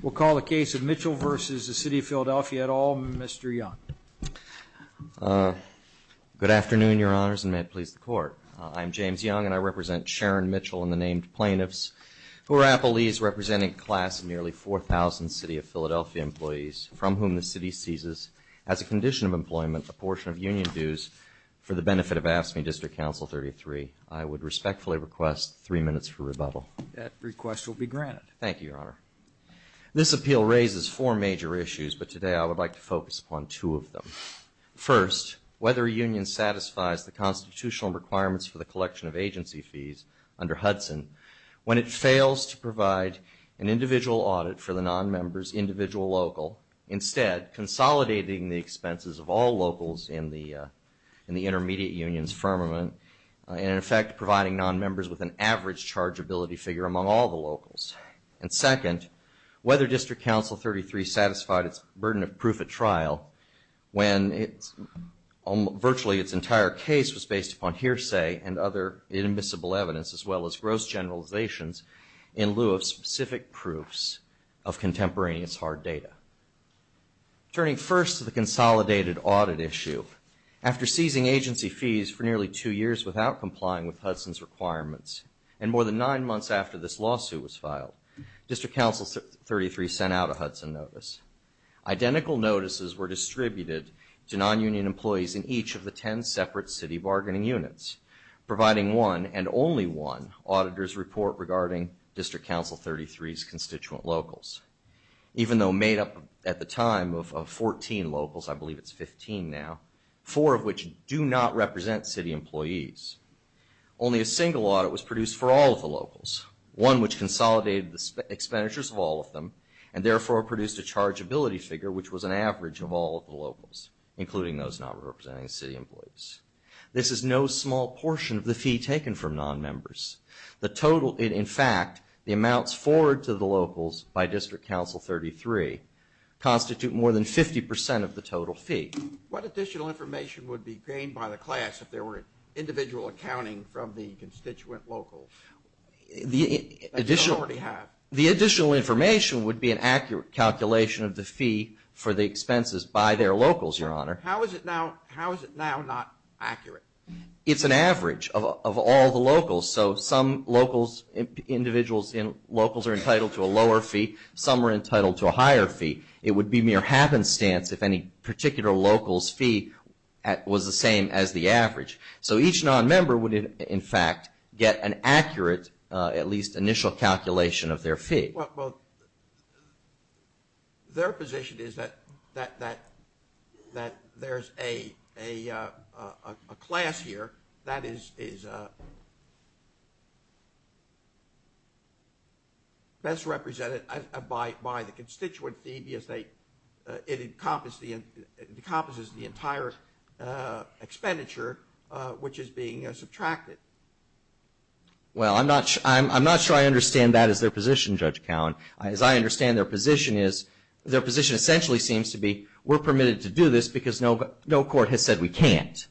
We'll call the case of Mitchell v. The City of Philadelphia et al., Mr. Young. Good afternoon, Your Honors, and may it please the Court. I'm James Young, and I represent Sharon Mitchell and the named plaintiffs, who are Appalese, representing a class of nearly 4,000 City of Philadelphia employees, from whom the City seizes, as a condition of employment, a portion of union dues for the benefit of AFSCME District Council 33. I would respectfully request three minutes for rebuttal. That request will be granted. Thank you, Your Honor. This appeal raises four major issues, but today I would like to focus upon two of them. First, whether a union satisfies the constitutional requirements for the collection of agency fees under Hudson when it fails to provide an individual audit for the nonmember's individual local, instead consolidating the expenses of all locals in the intermediate union's firmament, and in effect providing nonmembers with an average chargeability figure among all the locals. And second, whether District Council 33 satisfied its burden of proof at trial when virtually its entire case was based upon hearsay and other inadmissible evidence, as well as gross generalizations, in lieu of specific proofs of contemporaneous hard data. Turning first to the consolidated audit issue, after seizing agency fees for nearly two years without complying with Hudson's requirements, and more than nine months after this lawsuit was filed, District Council 33 sent out a Hudson notice. Identical notices were distributed to nonunion employees in each of the ten separate city bargaining units, providing one, and only one, auditor's report regarding District Council 33's constituent locals. Even though we made up, at the time, of 14 locals, I believe it's 15 now, four of which do not represent city employees. Only a single audit was produced for all of the locals, one which consolidated the expenditures of all of them, and therefore produced a chargeability figure which was an average of all of the locals, including those not representing city employees. This is no small portion of the fee taken from nonmembers. The total, in fact, the amounts forward to the locals by District Council 33 constitute more than 50 percent of the total fee. What additional information would be gained by the class if there were individual accounting from the constituent locals that you don't already have? The additional information would be an accurate calculation of the fee for the expenses by their locals, Your Honor. How is it now, how is it now not accurate? It's an average of all the locals, so some locals, individuals and locals are entitled to a lower fee, some are entitled to a higher fee. It would be mere happenstance if any particular local's fee was the same as the average. So each nonmember would, in fact, get an accurate, at least initial calculation of their fee. Well, their position is that there's a class here that is best represented by the constituent fee because it encompasses the entire expenditure which is being subtracted. Well, I'm not sure I understand that as their position, Judge Cowen. As I understand their position is, their position essentially seems to be we're permitted to do this because no court has said we can't.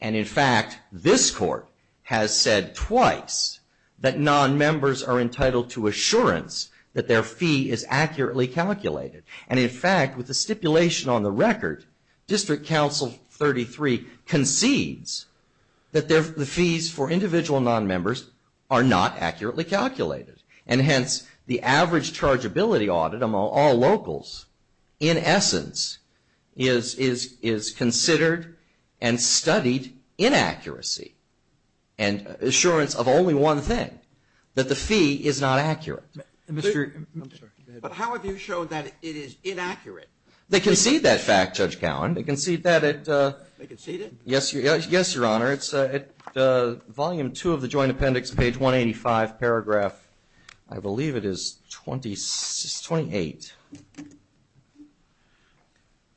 And in fact, this court has said twice that nonmembers are entitled to assurance that their fee is accurately calculated. And in fact, with the stipulation on the record, District Counsel 33 concedes that the fees for individual nonmembers are not accurately calculated. And hence, the average chargeability audit among all locals in essence is considered and studied inaccuracy and assurance of only one thing, that the fee is not accurate. But how have you shown that it is inaccurate? They concede that fact, Judge Cowen. They concede that at? They concede it? Yes, Your Honor. It's at Volume 2 of the Joint Appendix, page 185, paragraph, I believe it is 28.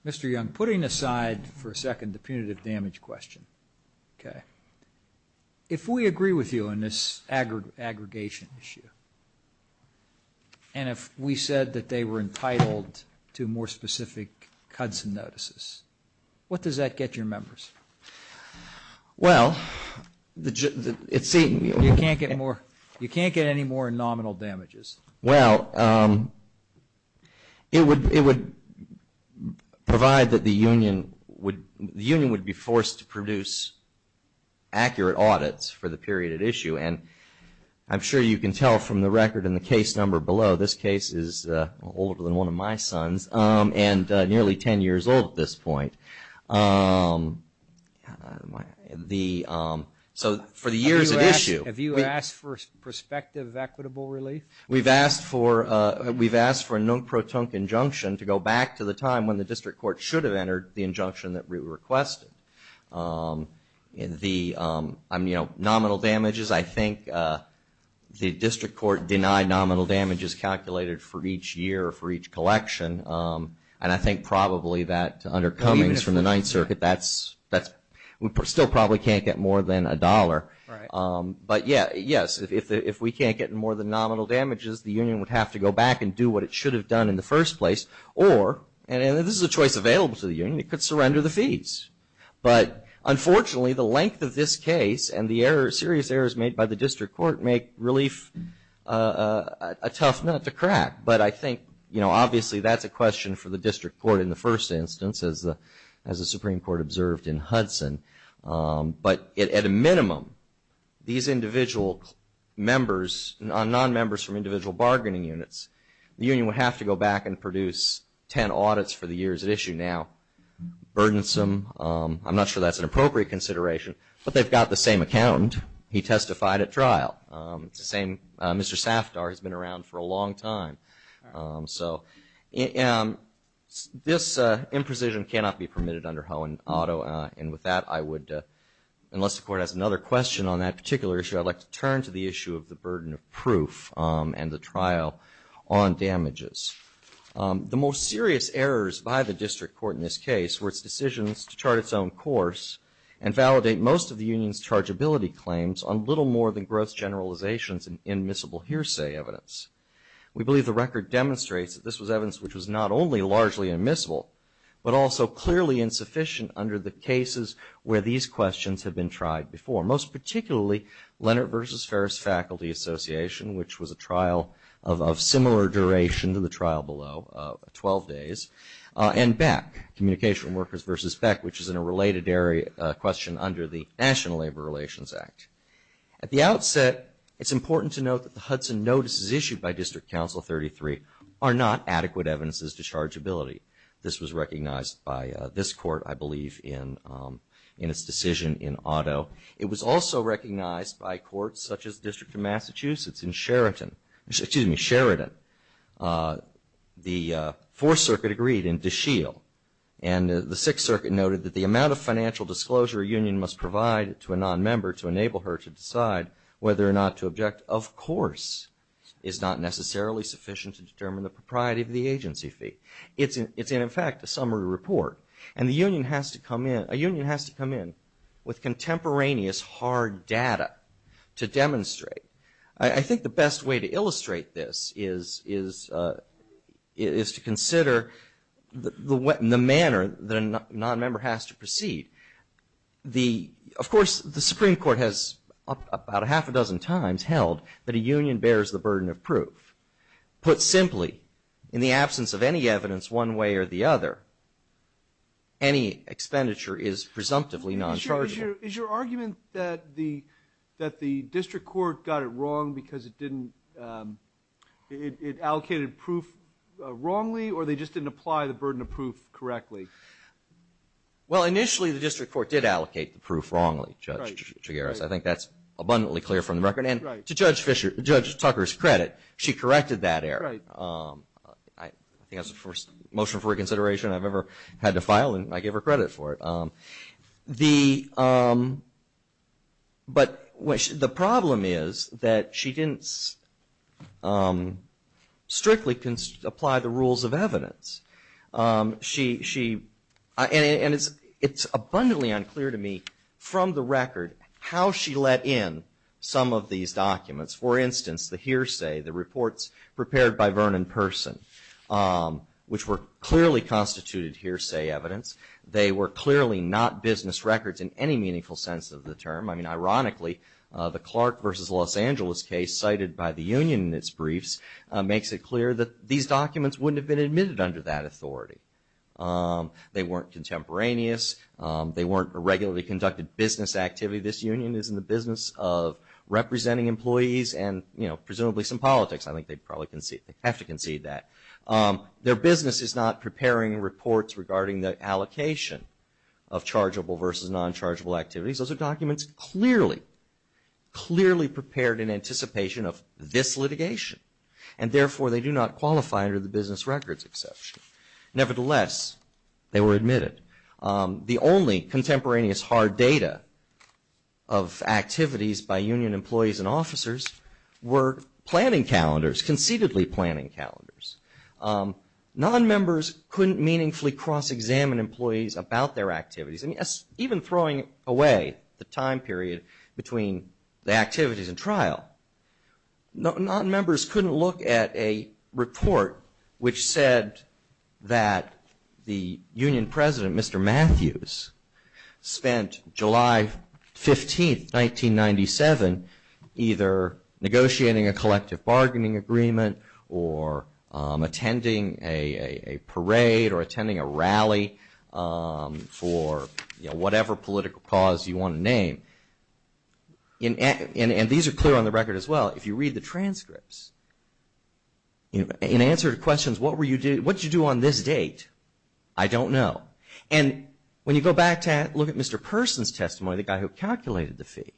Mr. Young, putting aside for a second the punitive damage question, if we agree with the specific CUDSN notices, what does that get your members? Well, it seems... You can't get more, you can't get any more nominal damages? Well, it would provide that the union would, the union would be forced to produce accurate audits for the period at issue. And I'm sure you can tell from the record in the case number below, this case is older than one of my sons, and nearly 10 years old at this point. So for the years at issue... Have you asked for prospective equitable relief? We've asked for a non-protunct injunction to go back to the time when the district court should have entered the injunction that we requested. The, you know, nominal damages, I think the district court denied nominal damages calculated for each year, for each collection. And I think probably that under Cummings from the Ninth Circuit, that's, we still probably can't get more than a dollar. But yes, if we can't get more than nominal damages, the union would have to go back and do what it should have done in the first place. Or, and this is a choice available to the union, it could surrender the fees. But unfortunately, the length of this case and the errors, serious errors made by the district court make relief a tough nut to crack. But I think, you know, obviously that's a question for the district court in the first instance, as the Supreme Court observed in Hudson. But at a minimum, these individual members, non-members from individual bargaining units, the union would have to go back and produce 10 audits for the years at issue. Now, burdensome. I'm not sure that's an appropriate consideration. But they've got the same accountant. He testified at trial. It's the same, Mr. Safdar has been around for a long time. So this imprecision cannot be permitted under Hohen Auto. And with that, I would, unless the court has another question on that particular issue, I'd like to turn to the issue of the court in this case, where it's decisions to chart its own course and validate most of the union's chargeability claims on little more than gross generalizations and admissible hearsay evidence. We believe the record demonstrates that this was evidence which was not only largely admissible, but also clearly insufficient under the cases where these questions have been tried before. Most particularly, Leonard versus Ferris Faculty Association, which was a trial of similar duration to the trial below, 12 days. And Beck, Communication Workers versus Beck, which is in a related area, a question under the National Labor Relations Act. At the outset, it's important to note that the Hudson notices issued by District Council 33 are not adequate evidences to chargeability. This was recognized by this court, I believe, in its decision in Auto. It was also recognized by courts such as the District of Massachusetts in Sheraton. Excuse me, Sheraton. The Fourth Circuit agreed in DeShiel. And the Sixth Circuit noted that the amount of financial disclosure a union must provide to a non-member to enable her to decide whether or not to object, of course, is not necessarily sufficient to determine the propriety of the agency fee. It's, in fact, a summary report. And a union has to provide hard data to demonstrate. I think the best way to illustrate this is to consider the manner that a non-member has to proceed. Of course, the Supreme Court has about a half a dozen times held that a union bears the burden of proof. Put simply, in the absence of any evidence one way or the other, any expenditure is presumptively non-chargeable. Is your argument that the District Court got it wrong because it didn't, it allocated proof wrongly or they just didn't apply the burden of proof correctly? Well, initially the District Court did allocate the proof wrongly, Judge Chigueras. I think that's abundantly clear from the record. And to Judge Tucker's credit, she corrected that error. I think that was the first motion for reconsideration I've ever had to file and I give her credit for it. But the problem is that she didn't strictly apply the rules of evidence. And it's abundantly unclear to me from the record how she let in some of these documents. For instance, the hearsay, the reports prepared by Vernon Person, which were clearly constituted hearsay evidence. They were clearly not business records in any meaningful sense of the term. I mean, ironically, the Clark versus Los Angeles case cited by the union in its briefs makes it clear that these documents wouldn't have been admitted under that authority. They weren't contemporaneous. They weren't a regularly conducted business activity. This union is in the business of representing employees and presumably some politics. I think they'd probably have to concede that. Their business is not preparing reports regarding the allocation of chargeable versus non-chargeable activities. Those are documents clearly, clearly prepared in anticipation of this litigation. And therefore, they do not qualify under the business records exception. Nevertheless, they were admitted. The only contemporaneous hard data of activities by union employees and officers were planning members couldn't meaningfully cross-examine employees about their activities. I mean, even throwing away the time period between the activities and trial, non-members couldn't look at a report which said that the union president, Mr. Matthews, spent July 15, 1997 either negotiating a collective bargaining agreement or attending a parade or attending a rally for whatever political cause you want to name. And these are clear on the record as well. If you read the transcripts, in answer to questions, what did you do on this date? I don't know. And when you go back to look at Mr. Person's testimony, the guy who calculated the fee,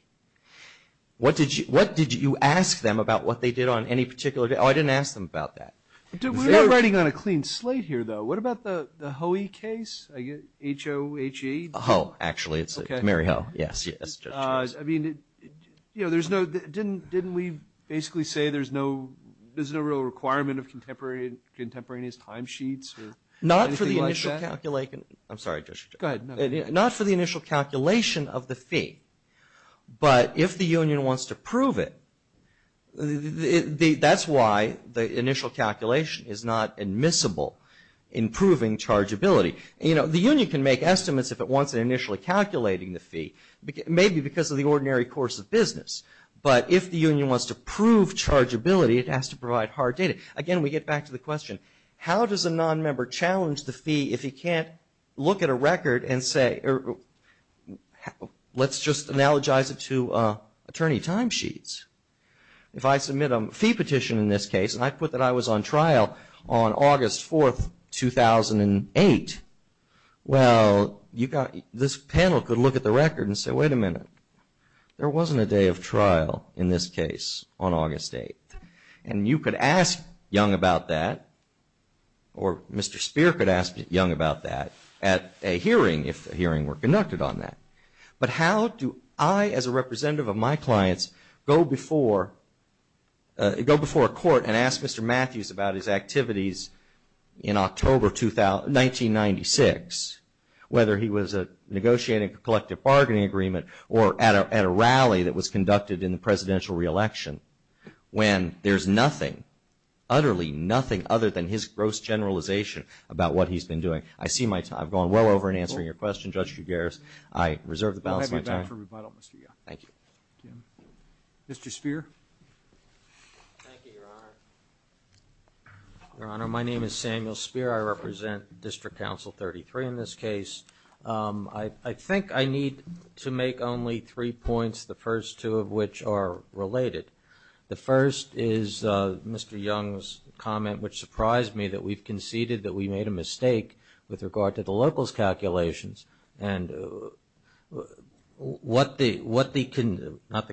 what did you ask them about what they did on any particular day? Oh, I didn't ask them about that. We're not writing on a clean slate here, though. What about the Hohe case? H-O-H-E? Oh, actually, it's Mary Hohe. Yes, yes, Judge Jones. I mean, didn't we basically say there's no real requirement of contemporaneous timesheets or anything like that? Not for the initial calculation. I'm sorry, Judge Jones. Go ahead. Not for the initial calculation of the fee. But if the union wants to prove it, that's why the initial calculation is not admissible in proving chargeability. The union can make estimates if it wants it initially calculating the fee, maybe because of the ordinary course of business. But if the union wants to prove chargeability, it has to provide hard data. Again, we get back to the question, how does a nonmember challenge the fee if he can't look at a record and say, let's just analogize it to attorney timesheets. If I submit a fee petition in this case, and I put that I was on trial on August 4, 2008, well, this panel could look at the record and say, wait a minute, there wasn't a day of trial in this case on August 8. And you could ask Young about that, or Mr. Spear could ask Young about that at a hearing, if a hearing were conducted on that. But how do I, as a representative of my clients, go before a court and ask Mr. Matthews about his activities in October 1996, whether he was negotiating a collective bargaining agreement or at a rally that was conducted in the presidential re-election, when there's nothing, utterly nothing, other than his gross generalization about what he's been doing? I've gone well over in answering your question, Judge Guguerres. I reserve the balance of my time. Mr. Spear? Thank you, Your Honor. Your Honor, my name is Samuel Spear. I represent District Counsel 33 in this case. I think I need to make only three points, the first two of which are related. The first is Mr. Young's comment, which surprised me, that we've conceded that we made a mistake with regard to the locals' calculations. And what the, not the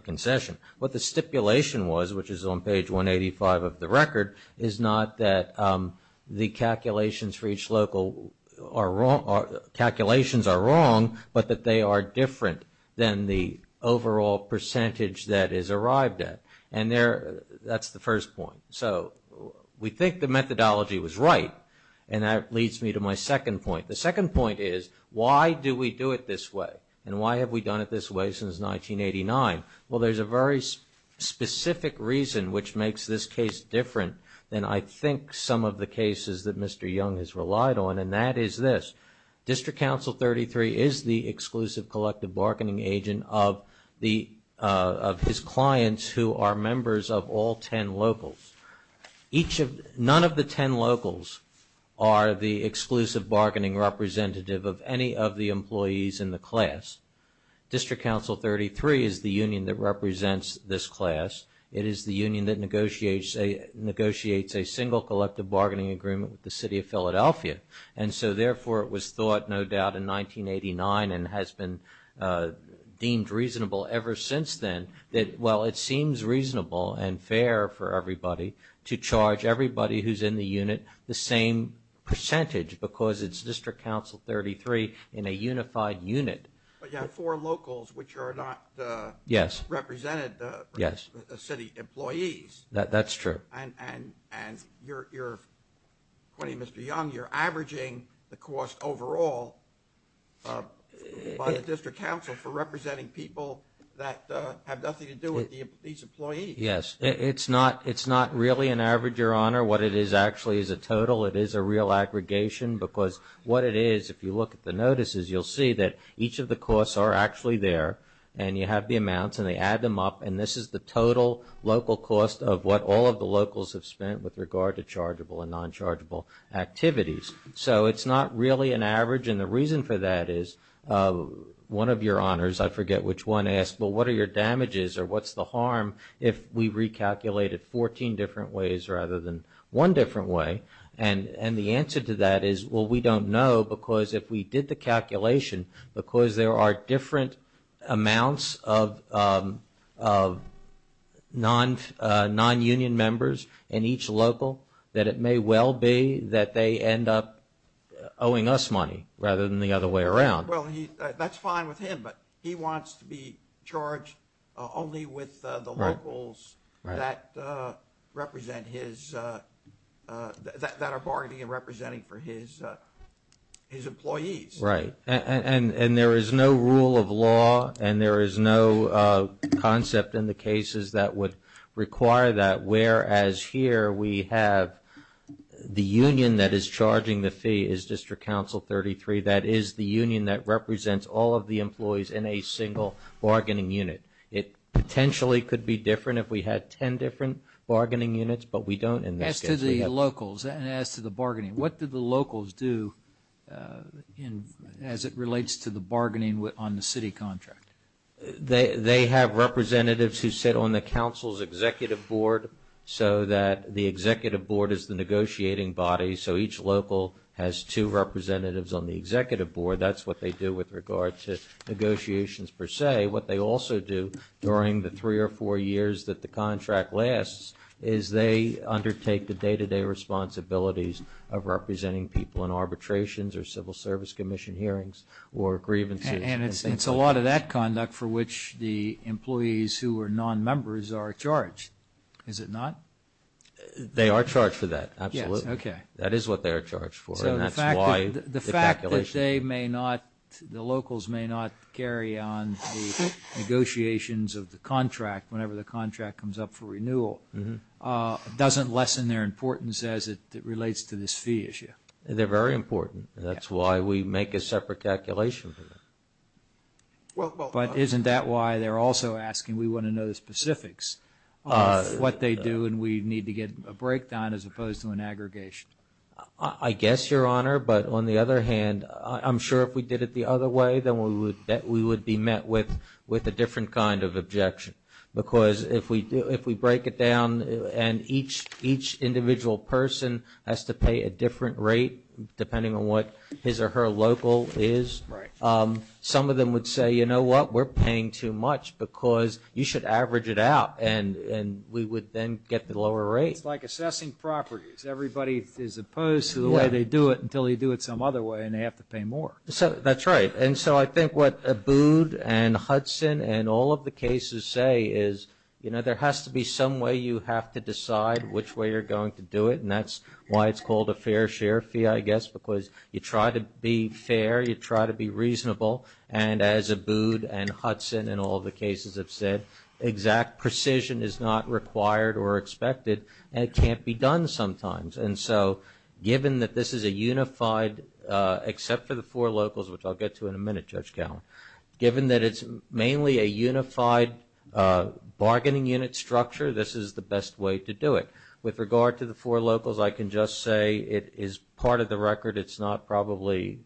concession, what the stipulation was, which is on page 185 of the record, is not that the calculations for each local are wrong, calculations are wrong, but that they are different than the overall percentage that is arrived at. And there, that's the first point. So, we think the methodology was right, and that leads me to my second point. The second point is, why do we do it this way? And why have we done it this way since 1989? Well, there's a very specific reason which makes this case different than I think some of the cases that Mr. Young has relied on, and that is this. District Counsel 33 is the exclusive collective bargaining agent of the, of his clients who are members of all 10 locals. Each of, none of the 10 locals are the exclusive bargaining representative of any of the employees in the class. District Counsel 33 is the union that represents this class. It is the union that negotiates a, negotiates a single collective bargaining agreement with the City of Philadelphia. And so, therefore, it was thought, no doubt, in 1989, and has been deemed reasonable ever since then, that, well, it seems reasonable and fair for everybody to charge everybody who's in the unit the same percentage, because it's District Counsel 33 in a unified unit. But you have four locals, which are not the, yes, represented the, yes, the city employees. That's true. And, and, and you're, you're, according to Mr. Young, you're averaging the cost overall by the District Counsel for representing people that have nothing to do with the, these employees. Yes. It's not, it's not really an average, Your Honor. What it is actually is a total. It is a real aggregation, because what it is, if you look at the notices, you'll see that each of the costs are actually there, and you have the amounts, and they add them up, and this is the total local cost of what all of the locals have spent with regard to chargeable and non-chargeable activities. So it's not really an average, and the reason for that is, one of your honors, I forget which one, asked, well, what are your damages, or what's the harm if we recalculated 14 different ways rather than one different way? And, and the answer to that is, well, we don't know, because if we did the calculation, because there are different amounts of, of non, non-union members in each local, that it may well be that they end up owing us money rather than the other way around. Well, he, that's fine with him, but he wants to be charged only with the locals that represent his, that are bargaining and representing for his, his employees. Right, and, and there is no rule of law, and there is no concept in the cases that would require that, whereas here we have the union that is charging the fee is District Council 33, that is the union that represents all of the employees in a single bargaining unit. It potentially could be different if we had 10 different bargaining units, but we don't in this case. As to the locals, and as to the bargaining, what do the locals do in, as it relates to the bargaining with, on the city contract? They, they have representatives who sit on the Council's Executive Board, so that the Executive Board is the negotiating body, so each local has two representatives on the Executive Board. That's what they do with regard to negotiations per se. What they also do during the three or four years that the contract lasts is they undertake the day-to-day responsibilities of representing people in arbitrations or Civil Service Commission hearings or grievances. And it's, it's a lot of that conduct for which the employees who are non-members are charged, is it not? They are charged for that, absolutely. Yes, okay. That is what they are charged for, and that's why the calculation. So the fact that they may not, the locals may not carry on the negotiations of the contract whenever the contract comes up for renewal, doesn't lessen their importance as it relates to this fee issue? They're very important. That's why we make a separate calculation for them. But isn't that why they're also asking, we want to know the specifics of what they do and we need to get a breakdown as opposed to an aggregation? I guess, Your Honor, but on the other hand, I'm sure if we did it the other way, then we would, that we would be met with, with a different kind of objection. Because if we do, if we break it down and each, each individual person has to pay a different rate depending on what his or her local is, some of them would say, you know what, we're paying too much because you should average it out and, and we would then get the lower rate. It's like assessing properties. Everybody is opposed to the way they do it until you do it some other way and they have to pay more. So that's right. And so I think what Abood and Hudson and all of the cases say is, you know, there has to be some way you have to decide which way you're going to do it. And that's why it's called a fair share fee, I guess, because you try to be fair, you try to be reasonable. And as Abood and Hudson and all of the cases have said, exact precision is not required or expected and it can't be done sometimes. And so given that this is a unified, except for the four locals, which I'll get to in a minute, Judge Gowen, given that it's mainly a unified bargaining unit structure, this is the best way to do it. With regard to the four locals, I can just say it is part of the record. It's not probably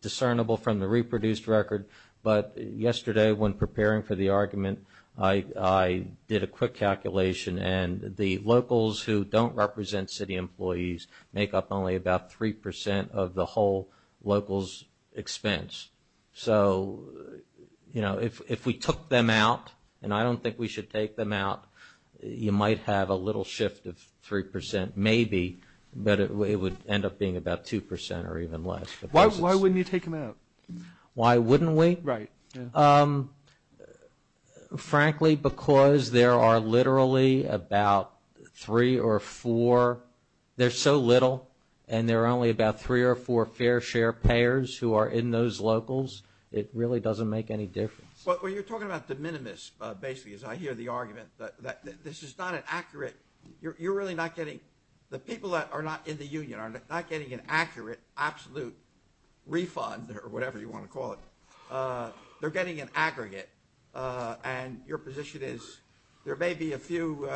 discernible from the reproduced record. But yesterday when preparing for the argument, I, I did a quick calculation and the locals who don't represent city employees make up only about 3% of the whole local's expense. So you know, if we took them out, and I don't think we should take them out, you might have a little shift of 3% maybe, but it would end up being about 2% or even less. Why wouldn't you take them out? Why wouldn't we? Right. Frankly, because there are literally about three or four, there's so little, and there are only about three or four fair share payers who are in those locals, it really doesn't make any difference. But when you're talking about the minimus, basically, as I hear the argument, that this is not an accurate, you're really not getting, the people that are not in the union are not getting an accurate, absolute refund, or whatever you want to call it. They're getting an aggregate, and your position is there may be a few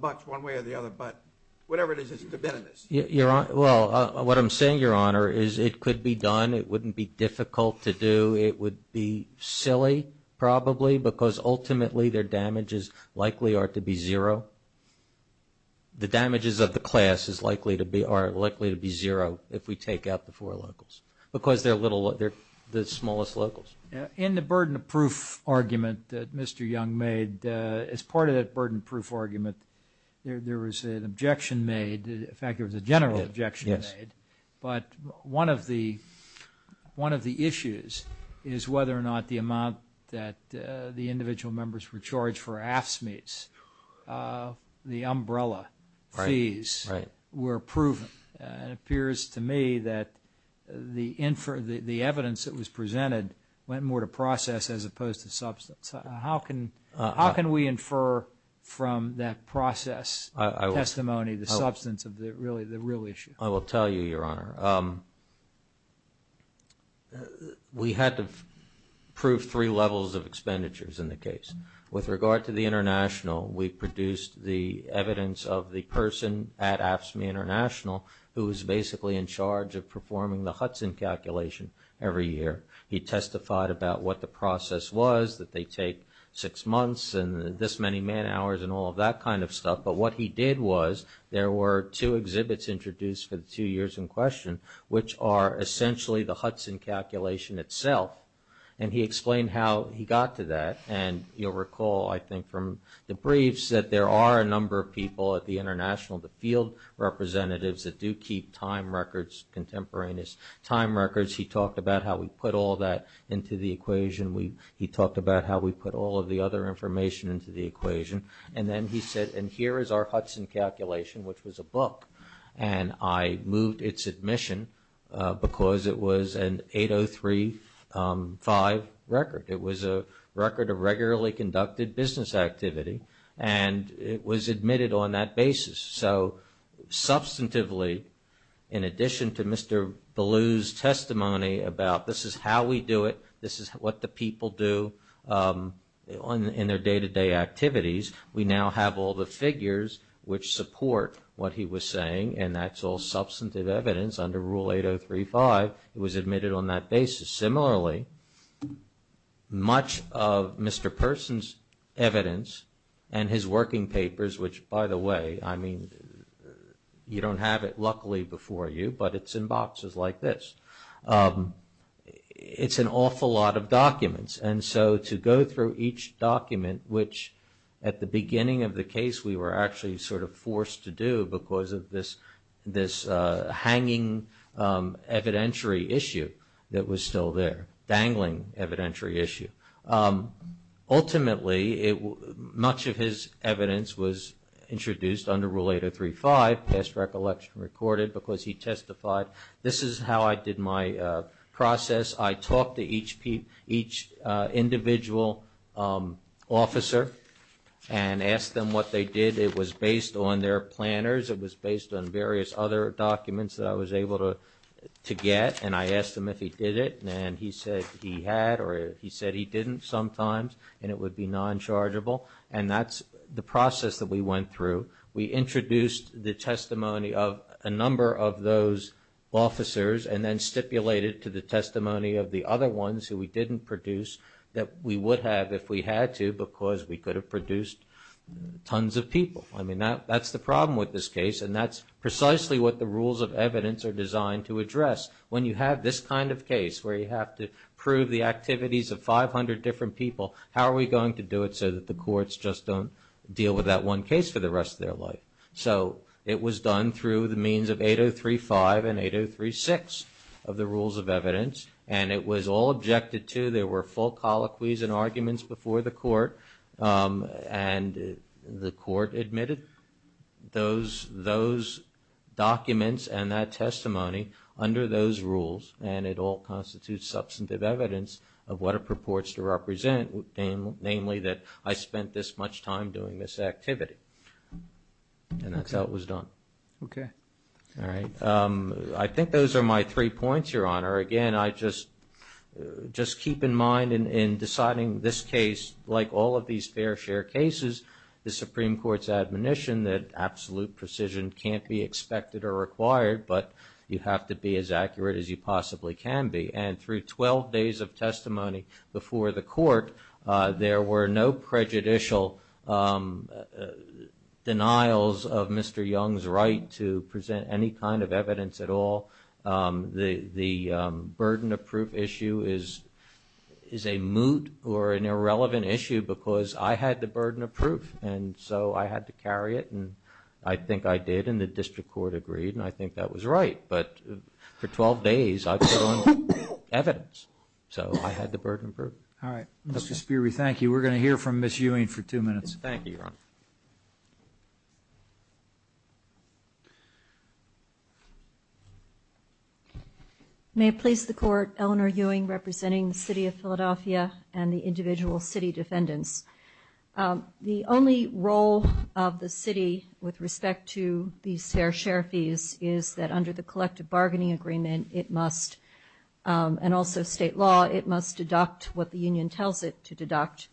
bucks one way or the other, but whatever it is, it's the minimus. Your Honor, well, what I'm saying, Your Honor, is it could be done. It wouldn't be difficult to do. It would be silly, probably, because ultimately their damages likely are to be zero if we take out the four locals, because they're the smallest locals. In the burden of proof argument that Mr. Young made, as part of that burden of proof argument, there was an objection made, in fact, there was a general objection made, but one of the issues is whether or not the amount that the individual members were charged for AFSCMEs, the umbrella fees, were proven. It appears to me that the evidence that was presented went more to process as opposed to substance. How can we infer from that process testimony the substance of the real issue? I will tell you, Your Honor. We had to prove three levels of expenditures in the case. With regard to the international, we produced the evidence of the person at AFSCME International who was basically in charge of performing the Hudson calculation every year. He testified about what the process was, that they take six months and this many man hours and all of that kind of stuff, but what he did was there were two exhibits introduced for the two years in question, which are essentially the Hudson calculation itself, and he explained how he got to that, and you'll recall, I think, from the briefs that there are a number of people at the international, the field representatives that do keep time records, contemporaneous time records. He talked about how we put all that into the equation. He talked about how we put all of the other information into the equation, and then he said, and here is our Hudson calculation, which was a book, and I moved its admission because it was an 8035 record. It was a record of regularly conducted business activity, and it was admitted on that basis. So, substantively, in addition to Mr. Ballew's testimony about this is how we do it, this is what the people do in their day-to-day activities, we now have all the figures which support what he was saying, and that's all substantive evidence under Rule 8035. It was admitted on that basis. Similarly, much of Mr. Persons' evidence and his working papers, which, by the way, I mean, you don't have it, luckily, before you, but it's in boxes like this. It's an awful lot of documents, and so to go through each document, which at the beginning of the case we were actually sort of forced to do because of this hanging evidentiary issue that was still there, dangling evidentiary issue. Ultimately, much of his evidence was introduced under Rule 8035, past recollection recorded, because he testified, this is how I did my process. I talked to each individual officer and asked them what they did. It was based on their planners, it was based on various other documents that I was able to get, and I asked him if he did it, and he said he had or he said he didn't sometimes, and it would be non-chargeable, and that's the process that we went through. We introduced the testimony of a number of those officers and then stipulated to the testimony of the other ones who we didn't produce that we would have if we had to because we could have produced tons of people. I mean, that's the problem with this case, and that's precisely what the rules of evidence are designed to address. When you have this kind of case where you have to prove the activities of 500 different people, how are we going to do it so that the courts just don't deal with that one case for the rest of their life? So it was done through the means of 8035 and 8036 of the rules of evidence, and it was all objected to. There were full colloquies and arguments before the court, and the court admitted those documents and that testimony under those rules, and it all constitutes substantive evidence of what it purports to represent, namely that I spent this much time doing this activity, and that's how it was done. Okay. All right. I think those are my three points, Your Honor. Again, I just keep in mind in deciding this case, like all of these fair share cases, the Supreme Court's admonition that absolute precision can't be expected or required, but you have to be as accurate as you possibly can be. And through 12 days of testimony before the court, there were no prejudicial denials of Mr. Young's right to present any kind of evidence at all. The burden of proof issue is a moot or an irrelevant issue because I had the burden of proof, and so I had to carry it, and I think I did, and the district court agreed, and I think that was right. But for 12 days, I put on evidence, so I had the burden of proof. All right. Mr. Sperry, thank you. We're going to hear from Ms. Ewing for two minutes. Thank you, Your Honor. May it please the Court, Eleanor Ewing representing the City of Philadelphia and the individual city defendants. The only role of the city with respect to these fair share fees is that under the collective bargaining agreement, it must, and also state law, it must deduct what the union tells it to deduct,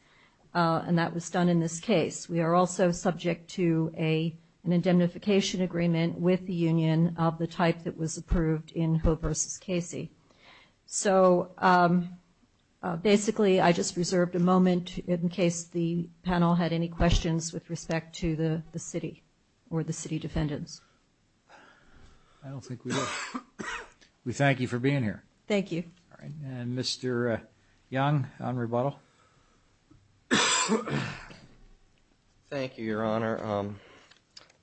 and that was done in this case. We are also subject to an indemnification agreement with the union of the type that was approved in Hove v. Casey. So basically, I just reserved a moment in case the panel had any questions with respect to the city or the city defendants. I don't think we do. We thank you for being here. Thank you. All right. And Mr. Young on rebuttal. Thank you, Your Honor.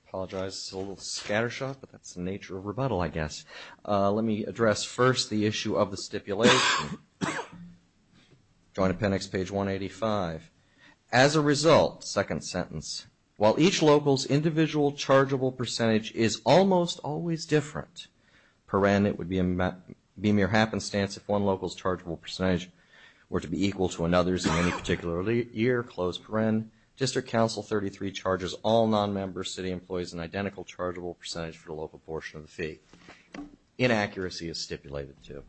Apologize, it's a little scattershot, but that's the nature of rebuttal, I guess. Let me address first the issue of the stipulation. Joint Appendix, page 185. As a result, second sentence, while each local's individual chargeable percentage is almost always different, it would be a mere happenstance if one local's chargeable percentage were to be equal to another's in any particular year. District Council 33 charges all non-member city employees an identical chargeable percentage for the local portion of the fee. Inaccuracy is stipulated too.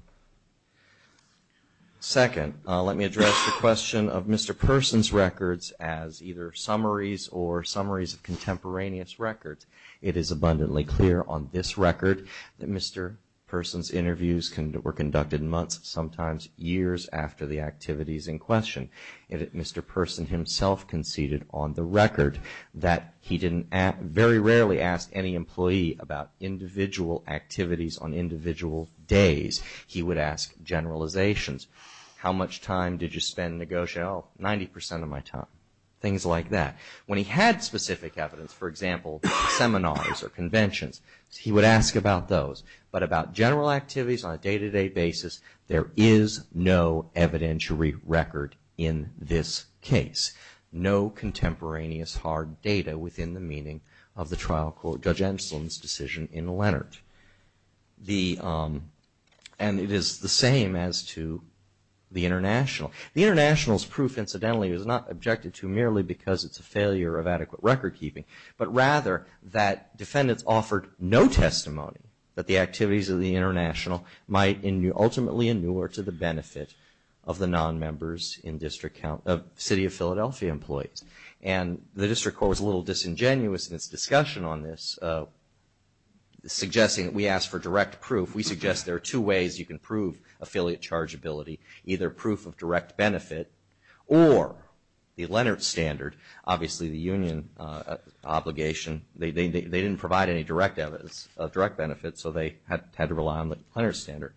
Second, let me address the question of Mr. Person's records as either summaries or summaries of contemporaneous records. It is abundantly clear on this record that Mr. Person's interviews were conducted months, sometimes years, after the activities in question, and that Mr. Person himself conceded on the record that he very rarely asked any employee about individual activities on individual days. He would ask generalizations. How much time did you spend negotiating? Oh, 90 percent of my time. Things like that. When he had specific evidence, for example, seminars or conventions, he would ask about those. But about general activities on a day-to-day basis, there is no evidentiary record in this case. No contemporaneous hard data within the meaning of the trial court, Judge Enslin's decision in Leonard. And it is the same as to the International. The International's proof, incidentally, is not objected to merely because it's a failure of adequate record keeping, but rather that defendants offered no testimony that the activities of the International might ultimately inure to the benefit of the non-members of City of Philadelphia employees. And the District Court was a little disingenuous in its discussion on this, suggesting that we ask for direct proof. We suggest there are two ways you can prove affiliate chargeability, either proof of direct benefit or the Leonard Standard. Obviously, the union obligation, they didn't provide any direct evidence of direct benefit, so they had to rely on the Leonard Standard.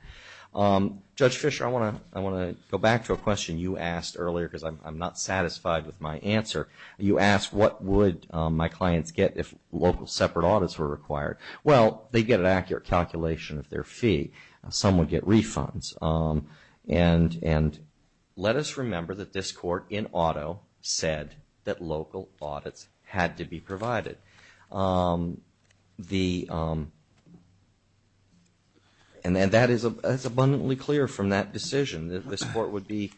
Judge Fischer, I want to go back to a question you asked earlier because I'm not satisfied with my answer. You asked what would my clients get if local separate audits were required. Well, they get an accurate calculation of their fee. Some would get refunds. And let us remember that this Court in auto said that local audits had to be provided. And that is abundantly clear from that decision. This Court would be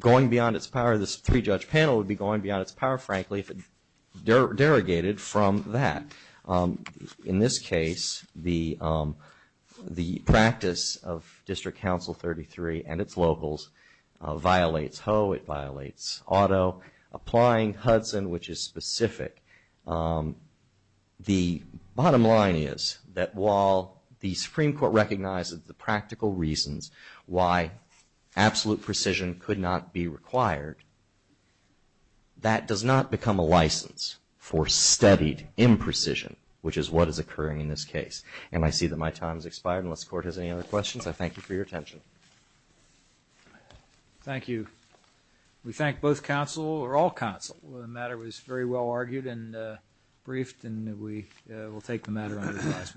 going beyond its power, this three-judge panel would be going beyond its power, frankly, if it derogated from that. In this case, the practice of District Counsel 33 and its locals violates Hoh, it violates auto. Applying Hudson, which is specific, the bottom line is that while the Supreme Court's precision could not be required, that does not become a license for studied imprecision, which is what is occurring in this case. And I see that my time has expired. Unless the Court has any other questions, I thank you for your attention. Thank you. We thank both counsel or all counsel. The matter was very well argued and briefed and we will take the matter under discussion.